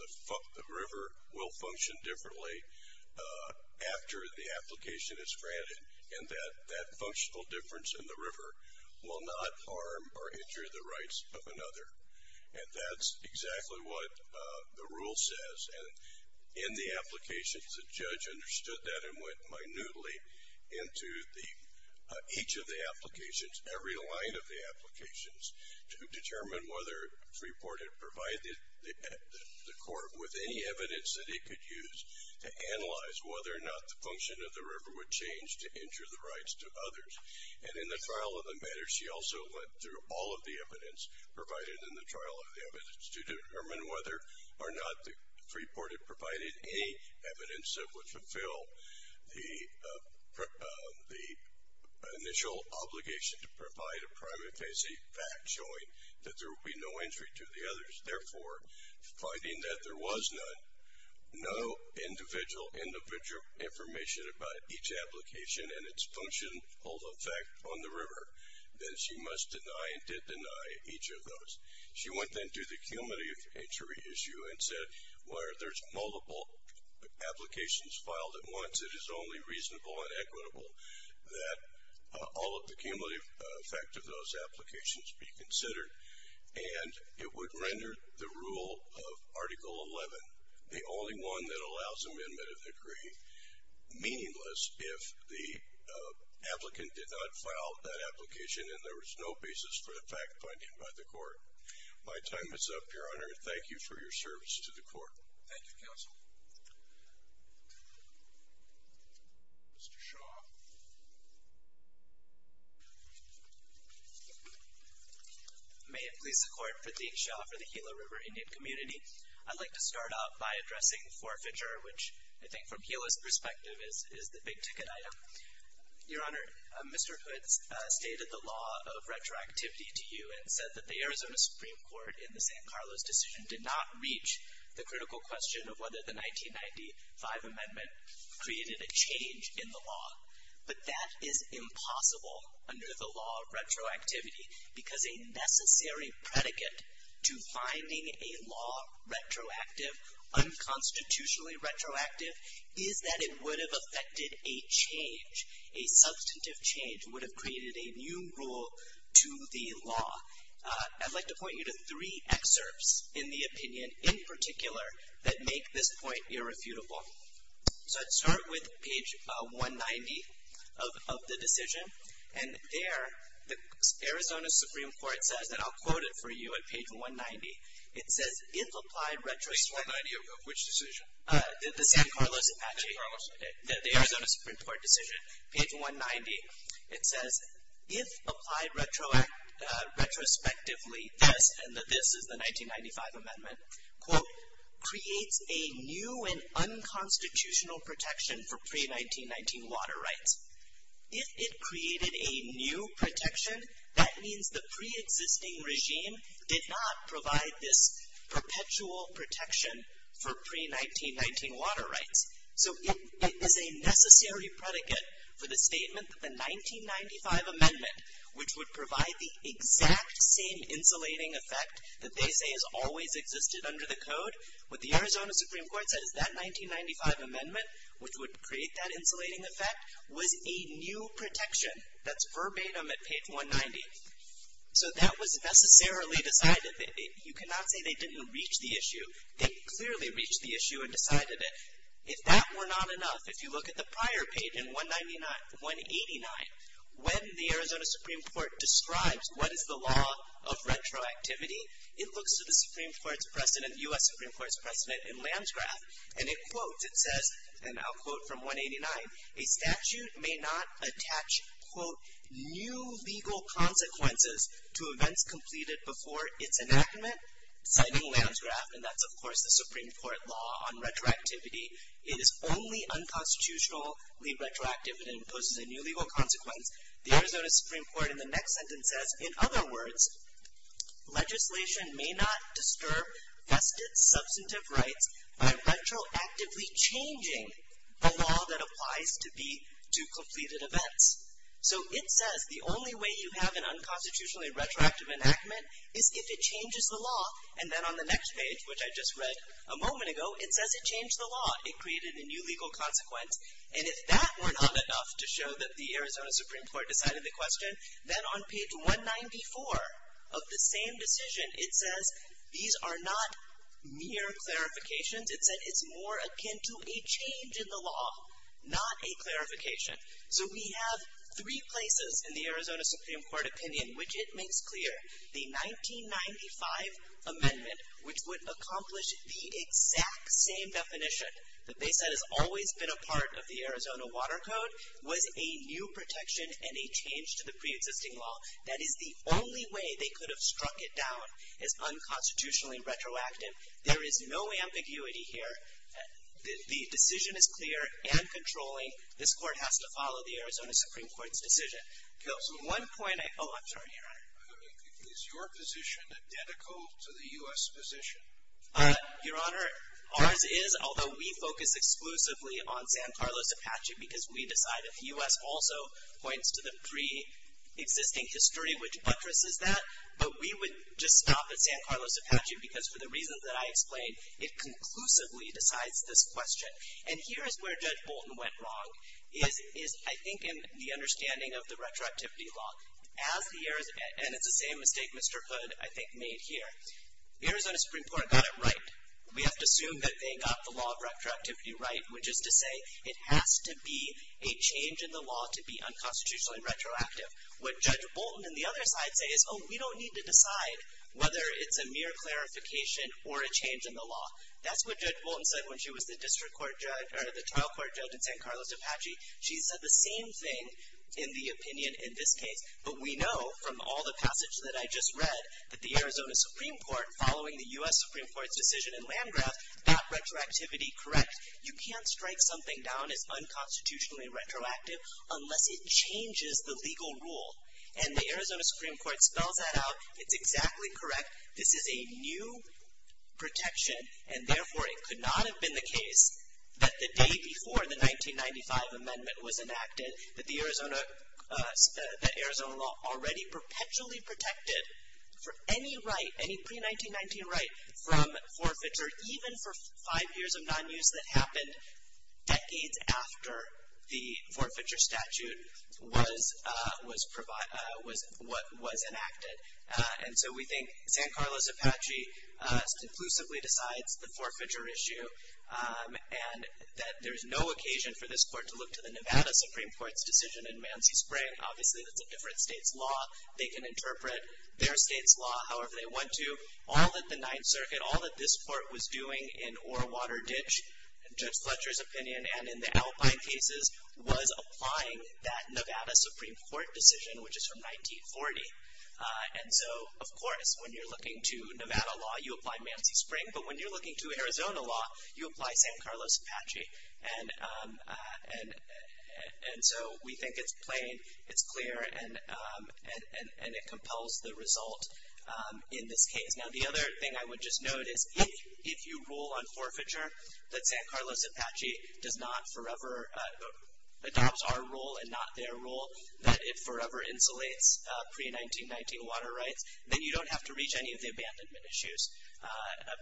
the river will function differently after the application is granted and that that functional difference in the river will not harm or injure the rights of another. And that's exactly what the rule says. And in the applications, the judge understood that and went minutely into each of the applications, every line of the applications, to determine whether Freeport had provided the court with any evidence that it could use to analyze whether or not the function of the river would change to injure the rights to others. And in the trial of the matter, she also went through all of the evidence provided in the trial of the evidence to determine whether or not Freeport had provided any evidence that would fulfill the initial obligation to provide a prime and fancy fact showing that there would be no injury to the others. Therefore, finding that there was none, no individual information about each application and its functional effect on the river, then she must deny and did deny each of those. She went then to the cumulative injury issue and said, where there's multiple applications filed at once, it is only reasonable and equitable that all of the cumulative effect of those applications be considered. And it would render the rule of Article 11, the only one that allows amendment of the decree, meaningless if the applicant did not file that application and there was no basis for the fact finding by the court. My time is up, Your Honor, and thank you for your service to the court. Thank you, Counsel. Mr. Shaw. May it please the Court, Pradeep Shaw for the Gila River Indian Community. I'd like to start off by addressing forfeiture, which I think from Gila's perspective is the big ticket item. Your Honor, Mr. Hood stated the law of retroactivity to you and said that the Arizona Supreme Court, in the San Carlos decision, did not reach the critical question of whether the 1995 amendment created a change in the law. But that is impossible under the law of retroactivity because a necessary predicate to finding a law retroactive, unconstitutionally retroactive, is that it would have affected a change, a substantive change would have created a new rule to the law. I'd like to point you to three excerpts in the opinion in particular that make this point irrefutable. So I'd start with page 190 of the decision, and there the Arizona Supreme Court says, and I'll quote it for you at page 190, it says, Page 190 of which decision? The San Carlos Apache. The Arizona Supreme Court decision, page 190. It says, if applied retrospectively, this, and this is the 1995 amendment, quote, creates a new and unconstitutional protection for pre-1919 water rights. If it created a new protection, that means the preexisting regime did not provide this perpetual protection for pre-1919 water rights. So it is a necessary predicate for the statement that the 1995 amendment, which would provide the exact same insulating effect that they say has always existed under the code, what the Arizona Supreme Court said is that 1995 amendment, which would create that insulating effect, was a new protection. That's verbatim at page 190. So that was necessarily decided. You cannot say they didn't reach the issue. They clearly reached the issue and decided it. If that were not enough, if you look at the prior page in 199, 189, when the Arizona Supreme Court describes what is the law of retroactivity, it looks to the Supreme Court's precedent, the U.S. Supreme Court's precedent in Lansgraf, and it quotes, it says, and I'll quote from 189, a statute may not attach, quote, new legal consequences to events completed before its enactment, citing Lansgraf, and that's of course the Supreme Court law on retroactivity. It is only unconstitutionally retroactive and imposes a new legal consequence. The Arizona Supreme Court in the next sentence says, in other words, legislation may not disturb vested substantive rights by retroactively changing the law that applies to completed events. So it says the only way you have an unconstitutionally retroactive enactment is if it changes the law, and then on the next page, which I just read a moment ago, it says it changed the law. It created a new legal consequence, and if that were not enough to show that the Arizona Supreme Court decided the question, then on page 194 of the same decision, it says these are not mere clarifications. It said it's more akin to a change in the law, not a clarification. So we have three places in the Arizona Supreme Court opinion which it makes clear. The 1995 amendment, which would accomplish the exact same definition that they said has always been a part of the Arizona Water Code, was a new protection and a change to the preexisting law. That is the only way they could have struck it down as unconstitutionally retroactive. There is no ambiguity here. The decision is clear and controlling. This Court has to follow the Arizona Supreme Court's decision. The one point I—oh, I'm sorry, Your Honor. Is your position identical to the U.S. position? Your Honor, ours is, although we focus exclusively on San Carlos Apache because we decide that the U.S. also points to the preexisting history, which buttresses that, but we would just stop at San Carlos Apache because for the reasons that I explained, it conclusively decides this question. And here is where Judge Bolton went wrong is, I think, in the understanding of the retroactivity law. And it's the same mistake Mr. Hood, I think, made here. The Arizona Supreme Court got it right. We have to assume that they got the law of retroactivity right, which is to say it has to be a change in the law to be unconstitutionally retroactive. What Judge Bolton and the other side say is, oh, we don't need to decide whether it's a mere clarification or a change in the law. That's what Judge Bolton said when she was the district court judge— or the trial court judge in San Carlos Apache. She said the same thing in the opinion in this case. But we know from all the passage that I just read that the Arizona Supreme Court, following the U.S. Supreme Court's decision in Landgraf, got retroactivity correct. You can't strike something down as unconstitutionally retroactive unless it changes the legal rule. And the Arizona Supreme Court spells that out. It's exactly correct. This is a new protection, and therefore it could not have been the case that the day before the 1995 amendment was enacted, that the Arizona law already perpetually protected for any right, any pre-1919 right from forfeiture, even for five years of nonuse that happened decades after the forfeiture statute was enacted. And so we think San Carlos Apache conclusively decides the forfeiture issue and that there's no occasion for this court to look to the Nevada Supreme Court's decision in Mansi Spring. Obviously, that's a different state's law. They can interpret their state's law however they want to. All that the Ninth Circuit, all that this court was doing in Orewater Ditch, in Judge Fletcher's opinion and in the Alpine cases, was applying that Nevada Supreme Court decision, which is from 1940. And so, of course, when you're looking to Nevada law, you apply Mansi Spring. But when you're looking to Arizona law, you apply San Carlos Apache. And so we think it's plain, it's clear, and it compels the result in this case. Now, the other thing I would just note is if you rule on forfeiture, that San Carlos Apache does not forever adopt our rule and not their rule, that it forever insulates pre-1919 water rights, then you don't have to reach any of the abandonment issues.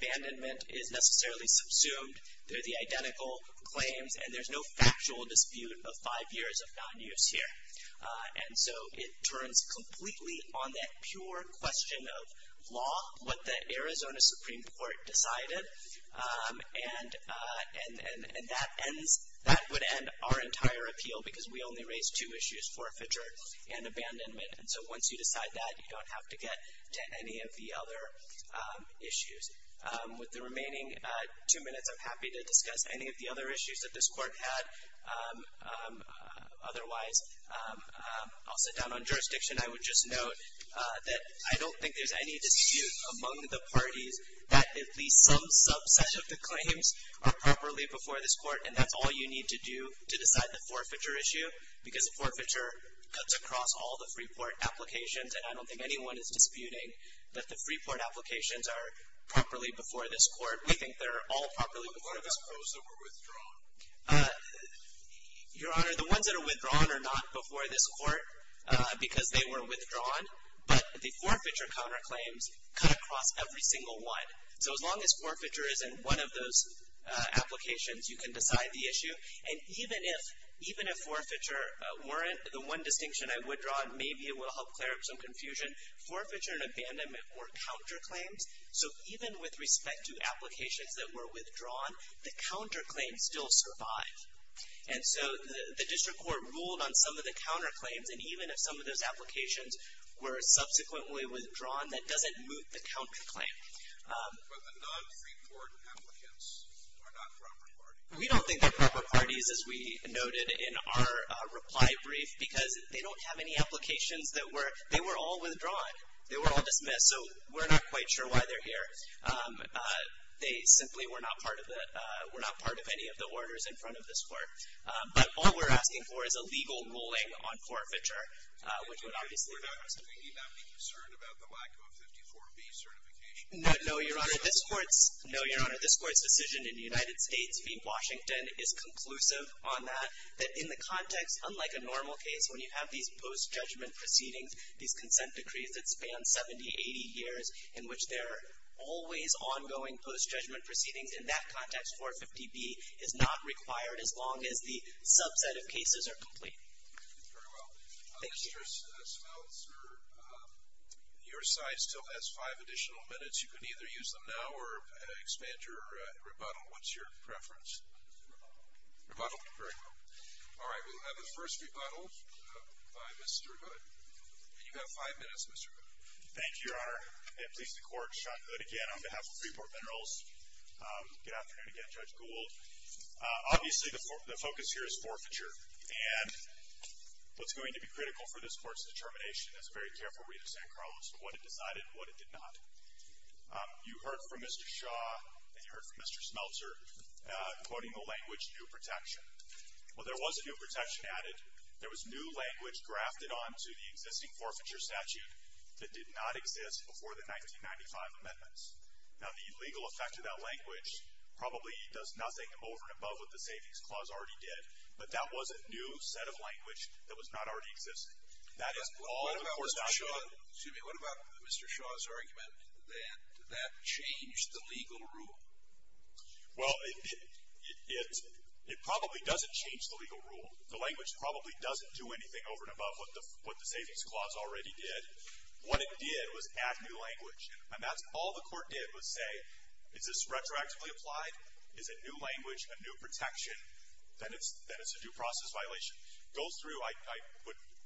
Abandonment is necessarily subsumed through the identical claims, and there's no factual dispute of five years of non-use here. And so it turns completely on that pure question of law, what the Arizona Supreme Court decided. And that would end our entire appeal because we only raised two issues, forfeiture and abandonment. And so once you decide that, you don't have to get to any of the other issues. With the remaining two minutes, I'm happy to discuss any of the other issues that this Court had otherwise. I'll sit down on jurisdiction. I would just note that I don't think there's any dispute among the parties that at least some subset of the claims are properly before this Court, and that's all you need to do to decide the forfeiture issue because the forfeiture cuts across all the Freeport applications, and I don't think anyone is disputing that the Freeport applications are properly before this Court. We think they're all properly before this Court. What about those that were withdrawn? Your Honor, the ones that are withdrawn are not before this Court because they were withdrawn, but the forfeiture counterclaims cut across every single one. So as long as forfeiture isn't one of those applications, you can decide the issue. And even if forfeiture weren't, the one distinction I would draw, and maybe it will help clear up some confusion, forfeiture and abandonment were counterclaims, so even with respect to applications that were withdrawn, the counterclaims still survive. And so the district court ruled on some of the counterclaims, and even if some of those applications were subsequently withdrawn, that doesn't moot the counterclaim. But the non-Freeport applicants are not proper parties. We don't think they're proper parties, as we noted in our reply brief, because they don't have any applications that were, they were all withdrawn. They were all dismissed, so we're not quite sure why they're here. They simply were not part of any of the orders in front of this Court. But all we're asking for is a legal ruling on forfeiture, which would obviously be the first. We need not be concerned about the lack of 54B certification. No, Your Honor. This Court's decision in the United States v. Washington is conclusive on that, that in the context, unlike a normal case when you have these post-judgment proceedings, these consent decrees that span 70, 80 years in which there are always ongoing post-judgment proceedings, in that context, 450B is not required as long as the subset of cases are complete. Very well. Thank you. Mr. Smeltzer, your side still has five additional minutes. You can either use them now or expand your rebuttal. What's your preference? Rebuttal. Rebuttal? Very well. All right, we'll have the first rebuttal by Mr. Hood. And you have five minutes, Mr. Hood. Thank you, Your Honor. And please, the Court, Sean Hood again on behalf of Freeport Minerals. Good afternoon again, Judge Gould. Obviously, the focus here is forfeiture. And what's going to be critical for this Court's determination is a very careful read of San Carlos, what it decided and what it did not. You heard from Mr. Shaw and you heard from Mr. Smeltzer quoting the language, new protection. Well, there was a new protection added. There was new language grafted onto the existing forfeiture statute that did not exist before the 1995 amendments. Now, the legal effect of that language probably does nothing over and above what the Savings Clause already did, but that was a new set of language that was not already existing. That is all the Court's now shown. Excuse me. What about Mr. Shaw's argument that that changed the legal rule? Well, it probably doesn't change the legal rule. The language probably doesn't do anything over and above what the Savings Clause already did. What it did was add new language. And that's all the Court did was say, is this retroactively applied? Is it new language, a new protection? Then it's a due process violation. Go through,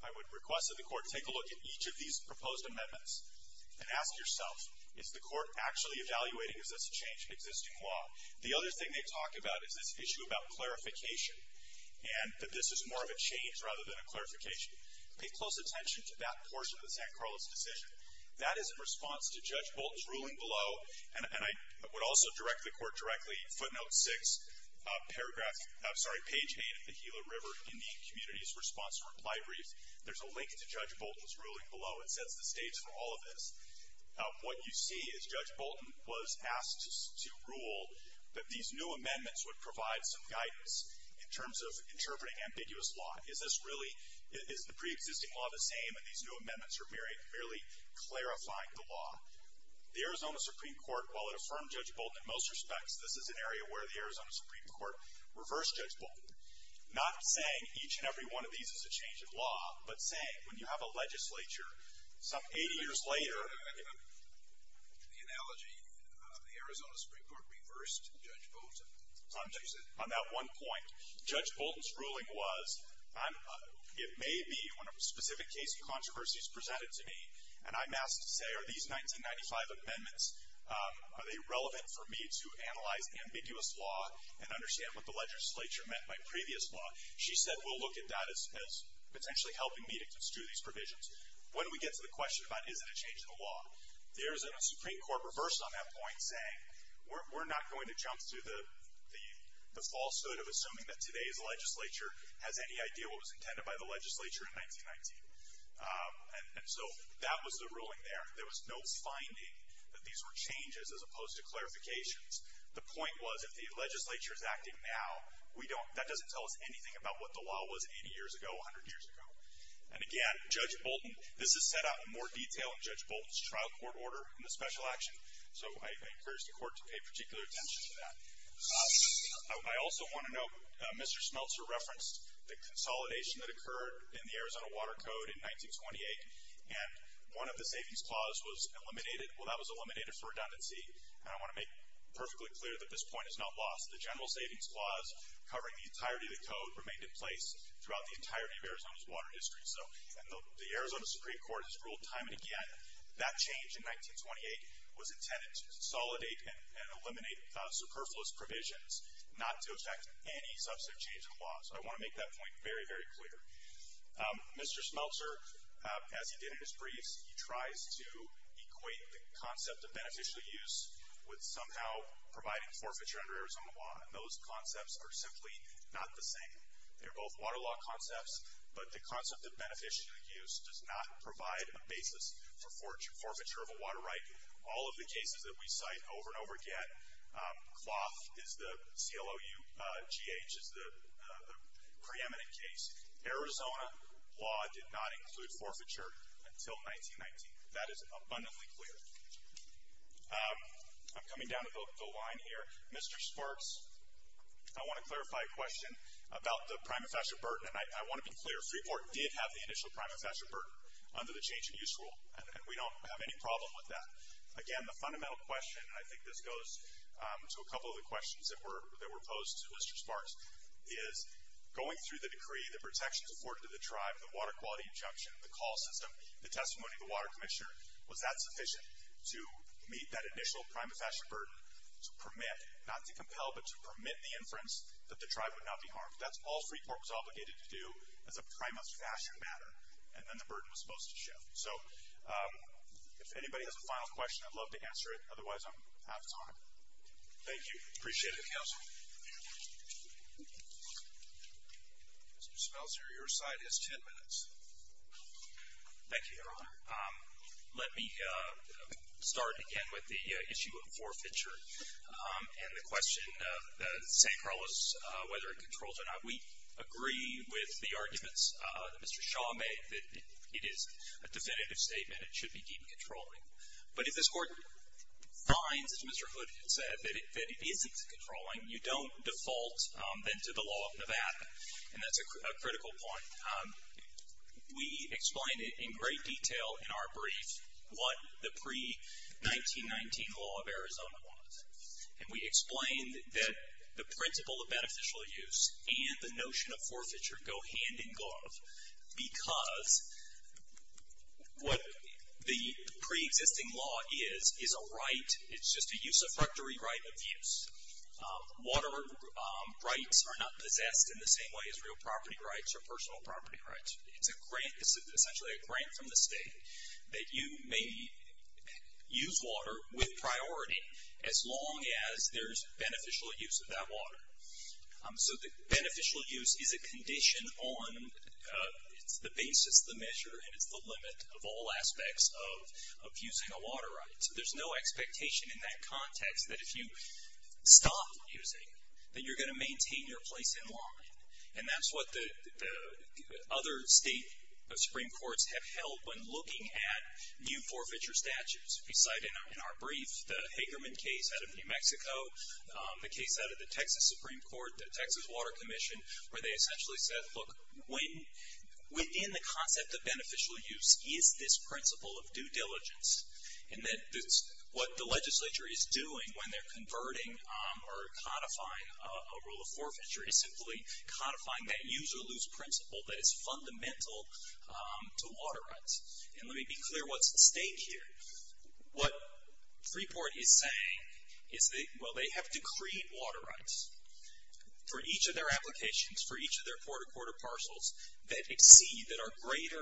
I would request that the Court take a look at each of these proposed amendments and ask yourself, is the Court actually evaluating, is this a change in existing law? The other thing they talk about is this issue about clarification and that this is more of a change rather than a clarification. Pay close attention to that portion of the San Carlos decision. That is in response to Judge Bolton's ruling below. And I would also direct the Court directly, footnote 6, paragraph, I'm sorry, page 8 of the Gila River Indian Community's response and reply brief. There's a link to Judge Bolton's ruling below. It sets the stage for all of this. What you see is Judge Bolton was asked to rule that these new amendments would provide some guidance in terms of interpreting ambiguous law. Is this really, is the preexisting law the same and these new amendments are merely clarifying the law? The Arizona Supreme Court, while it affirmed Judge Bolton in most respects, this is an area where the Arizona Supreme Court reversed Judge Bolton. Not saying each and every one of these is a change in law, but saying when you have a legislature some 80 years later. The analogy, the Arizona Supreme Court reversed Judge Bolton. On that one point. Judge Bolton's ruling was, it may be when a specific case of controversy is presented to me and I'm asked to say, are these 1995 amendments, are they relevant for me to analyze ambiguous law and understand what the legislature meant by previous law? She said, we'll look at that as potentially helping me to construe these provisions. When we get to the question about is it a change in the law, the Arizona Supreme Court reversed on that point saying, we're not going to jump to the falsehood of assuming that today's legislature has any idea what was intended by the legislature in 1919. And so that was the ruling there. There was no finding that these were changes as opposed to clarifications. The point was, if the legislature is acting now, that doesn't tell us anything about what the law was 80 years ago, 100 years ago. And again, Judge Bolton, this is set out in more detail in Judge Bolton's trial court order in the special action. So I encourage the court to pay particular attention to that. I also want to note, Mr. Schmelzer referenced the consolidation that occurred in the Arizona Water Code in 1928. And one of the savings clause was eliminated. Well, that was eliminated for redundancy. And I want to make perfectly clear that this point is not lost. The general savings clause covering the entirety of the code remained in place throughout the entirety of Arizona's water district. And the Arizona Supreme Court has ruled time and again that change in 1928 was intended to consolidate and eliminate superfluous provisions, not to affect any substantive change in the law. So I want to make that point very, very clear. Mr. Schmelzer, as he did in his briefs, he tries to equate the concept of beneficial use with somehow providing forfeiture under Arizona law. And those concepts are simply not the same. They're both water law concepts, but the concept of beneficial use does not provide a basis for forfeiture of a water right. All of the cases that we cite over and over again, CLOUGH is the preeminent case. Arizona law did not include forfeiture until 1919. That is abundantly clear. I'm coming down to the line here. Mr. Sparks, I want to clarify a question about the prima facie burden. And I want to be clear. Freeport did have the initial prima facie burden under the change in use rule. And we don't have any problem with that. Again, the fundamental question, and I think this goes to a couple of the questions that were posed to Mr. Sparks, is going through the decree, the protections afforded to the tribe, the water quality injunction, the call system, the testimony of the water commissioner, was that sufficient to meet that initial prima facie burden, to permit, not to compel, but to permit the inference that the tribe would not be harmed? That's all Freeport was obligated to do as a prima facie matter, and then the burden was supposed to shift. So if anybody has a final question, I'd love to answer it. Otherwise, I'm out of time. Thank you. Appreciate it, counsel. Mr. Spelser, your side has ten minutes. Thank you, Your Honor. Let me start again with the issue of forfeiture and the question of the St. Carlos, whether it controls or not. We agree with the arguments that Mr. Shaw made, that it is a definitive statement. It should be deemed controlling. But if this Court finds, as Mr. Hood had said, that it isn't controlling, you don't default then to the law of Nevada. And that's a critical point. We explained in great detail in our brief what the pre-1919 law of Arizona was. And we explained that the principle of beneficial use and the notion of forfeiture go hand in glove because what the pre-existing law is, is a right, it's just a usurpatory right of use. Water rights are not possessed in the same way as real property rights or personal property rights. It's essentially a grant from the state that you may use water with priority, as long as there's beneficial use of that water. So the beneficial use is a condition on the basis of the measure, and it's the limit of all aspects of using a water right. So there's no expectation in that context that if you stop using, then you're going to maintain your place in law. And that's what the other state supreme courts have held when looking at new forfeiture statutes. We cite in our brief the Hagerman case out of New Mexico, the case out of the Texas Supreme Court, the Texas Water Commission, where they essentially said, look, within the concept of beneficial use is this principle of due diligence. And that what the legislature is doing when they're converting or codifying a rule of forfeiture is simply codifying that use or lose principle that is fundamental to water rights. And let me be clear what's at stake here. What Freeport is saying is that, well, they have decreed water rights for each of their applications, for each of their quarter-quarter parcels that exceed, that are greater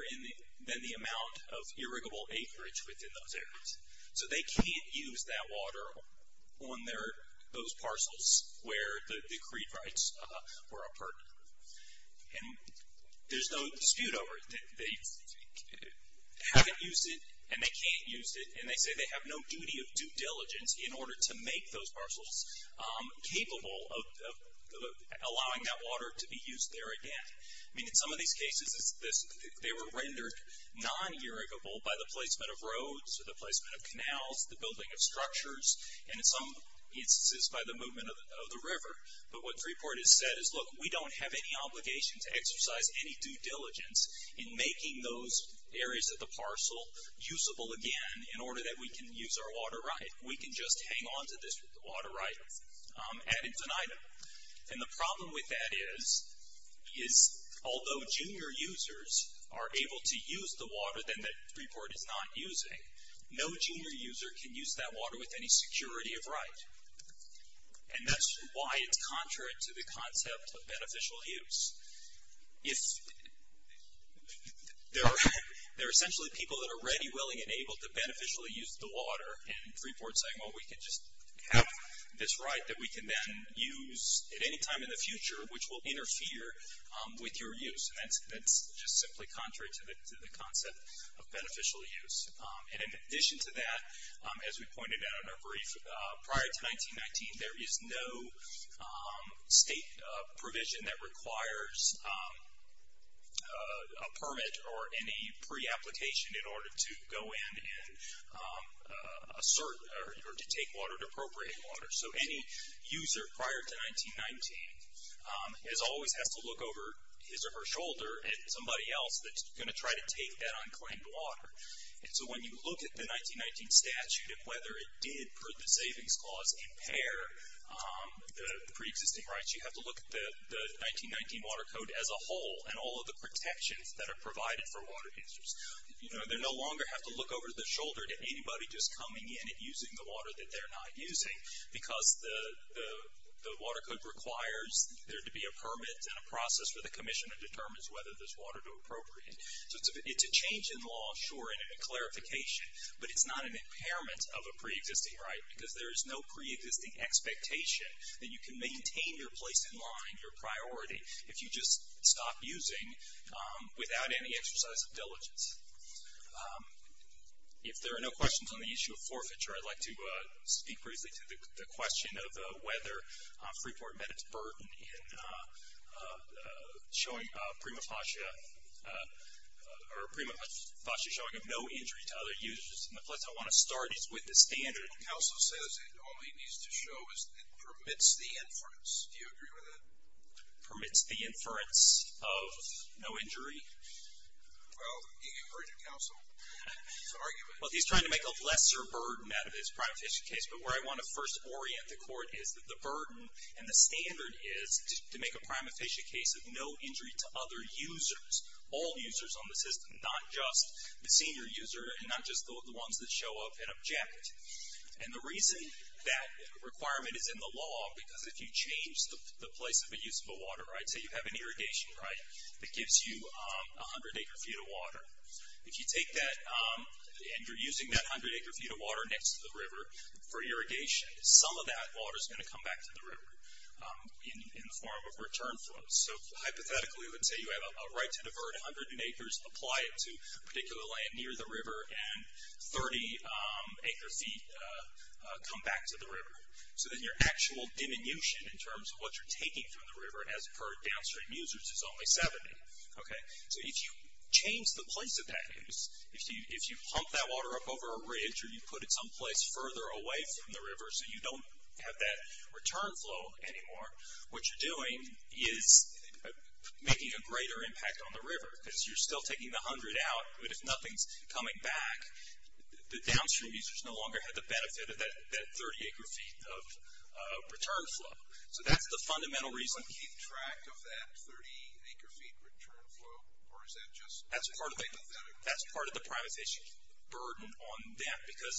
than the amount of irrigable acreage within those areas. So they can't use that water on those parcels where the decreed rights were upheld. And there's no dispute over it. They haven't used it, and they can't use it, and they say they have no duty of due diligence in order to make those parcels capable of allowing that water to be used there again. I mean, in some of these cases, they were rendered non-irrigable by the placement of roads or the placement of canals, the building of structures, and in some instances by the movement of the river. But what Freeport has said is, look, we don't have any obligation to exercise any due diligence in making those areas of the parcel usable again in order that we can use our water right. We can just hang on to this water right ad infinitum. And the problem with that is, is although junior users are able to use the water that Freeport is not using, no junior user can use that water with any security of right. And that's why it's contrary to the concept of beneficial use. If there are essentially people that are ready, willing, and able to beneficially use the water, and Freeport's saying, well, we can just have this right that we can then use at any time in the future, which will interfere with your use, that's just simply contrary to the concept of beneficial use. And in addition to that, as we pointed out in our brief, prior to 1919, there is no state provision that requires a permit or any pre-application in order to go in and assert or to take water, to appropriate water. So any user prior to 1919 always has to look over his or her shoulder at somebody else that's going to try to take that unclaimed water. And so when you look at the 1919 statute and whether it did, per the savings clause, impair the pre-existing rights, you have to look at the 1919 Water Code as a whole and all of the protections that are provided for water users. You know, they no longer have to look over their shoulder at anybody just coming in and using the water that they're not using because the Water Code requires there to be a permit and a process for the commissioner to determine whether this water is appropriate. So it's a change in law, sure, and a clarification, but it's not an impairment of a pre-existing right because there is no pre-existing expectation that you can maintain your place in law and your priority if you just stop using without any exercise of diligence. If there are no questions on the issue of forfeiture, I'd like to speak briefly to the question of whether Freeport met its burden in showing a prima facie showing of no injury to other users. And the place I want to start is with the standard. The counsel says it only needs to show as it permits the inference. Do you agree with that? Permits the inference of no injury. Well, you heard your counsel. It's an argument. Well, he's trying to make a lesser burden out of this private fishing case. But where I want to first orient the court is that the burden and the standard is to make a prima facie case of no injury to other users, all users on the system, not just the senior user and not just the ones that show up and object. And the reason that requirement is in the law, because if you change the place of a usable water, right, say you have an irrigation, right, that gives you 100 acre feet of water. If you take that and you're using that 100 acre feet of water next to the river for irrigation, some of that water is going to come back to the river in the form of return flows. So hypothetically, let's say you have a right to divert 100 acres, apply it to particular land near the river, and 30 acre feet come back to the river. So then your actual diminution in terms of what you're taking from the river, as per downstream users, is only 70. Okay. So if you change the place of that use, if you pump that water up over a ridge or you put it someplace further away from the river so you don't have that return flow anymore, what you're doing is making a greater impact on the river because you're still taking the 100 out, but if nothing's coming back, the downstream users no longer have the benefit of that 30 acre feet of return flow. So that's the fundamental reason. Do you keep track of that 30 acre feet return flow, or is that just hypothetically? That's part of the privatization burden on them, because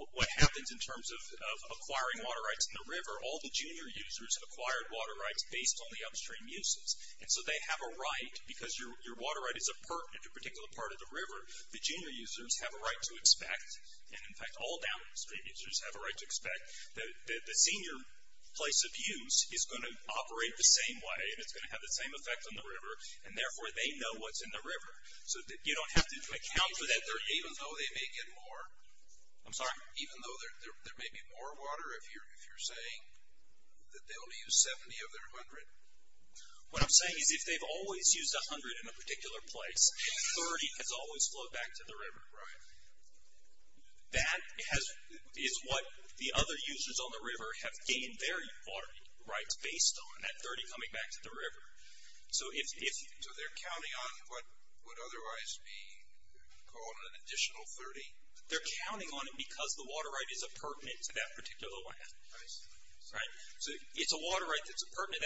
what happens in terms of acquiring water rights in the river, all the junior users have acquired water rights based on the upstream uses. And so they have a right, because your water right is a part in a particular part of the river, the junior users have a right to expect, and in fact all downstream users have a right to expect, that the senior place of use is going to operate the same way, and it's going to have the same effect on the river, and therefore they know what's in the river. So you don't have to account for that even though they may get more. I'm sorry? Even though there may be more water if you're saying that they only use 70 of their 100. What I'm saying is if they've always used 100 in a particular place, 30 has always flowed back to the river. Right. That is what the other users on the river have gained their water rights based on, that 30 coming back to the river. So they're counting on what would otherwise be called an additional 30? They're counting on it because the water right is appurtenant to that particular land. I see. Right? So it's a water right that's appurtenant,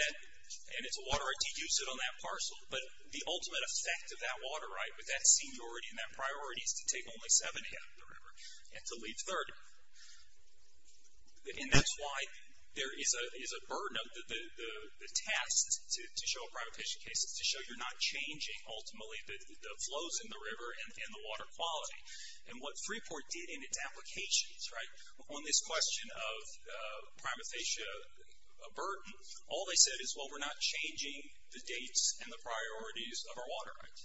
and it's a water right to use it on that parcel, but the ultimate effect of that water right, with that seniority and that priority, is to take only 70 out of the river and to leave 30. And that's why there is a burden of the test to show a primatization case is to show you're not changing, ultimately, the flows in the river and the water quality. And what Freeport did in its applications, right, on this question of primatization burden, all they said is, well, we're not changing the dates and the priorities of our water rights.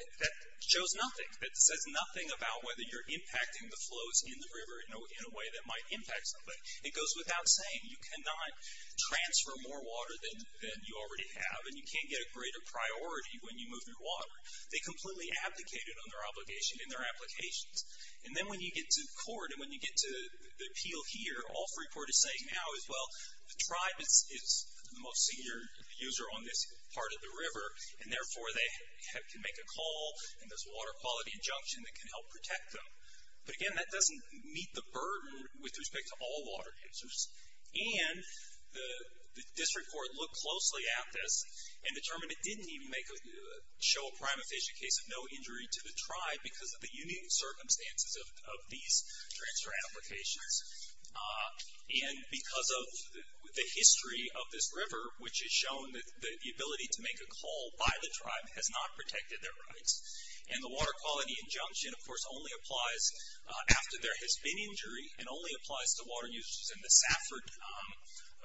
That shows nothing. That says nothing about whether you're impacting the flows in the river in a way that might impact something. It goes without saying. You cannot transfer more water than you already have, and you can't get a greater priority when you move your water. They completely abdicated on their obligation in their applications. And then when you get to court and when you get to the appeal here, all Freeport is saying now is, well, the tribe is the most senior user on this part of the river, and therefore they can make a call, and there's a water quality injunction that can help protect them. But, again, that doesn't meet the burden with respect to all water users. And the district court looked closely at this and determined it didn't even show a primatization case of no injury to the tribe because of the unique circumstances of these transfer applications. And because of the history of this river, which has shown that the ability to make a call by the tribe has not protected their rights. And the water quality injunction, of course, only applies after there has been injury and only applies to water users in the Safford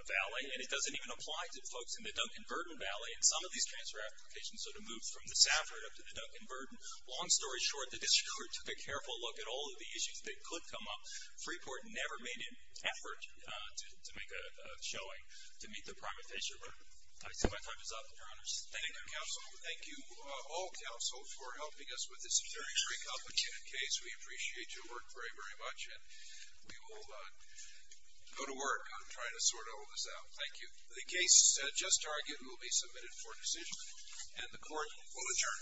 Valley, and it doesn't even apply to folks in the Duncan-Verdon Valley. And some of these transfer applications sort of move from the Safford up to the Duncan-Verdon. Long story short, the district court took a careful look at all of the issues that could come up. Freeport never made an effort to make a showing to meet the primatization burden. I see my time is up, Your Honors. Thank you, Counsel. Thank you all, Counsel, for helping us with this very complicated case. We appreciate your work very, very much, and we will go to work on trying to sort all this out. Thank you. The case just argued will be submitted for decision, and the court will adjourn. Thank you.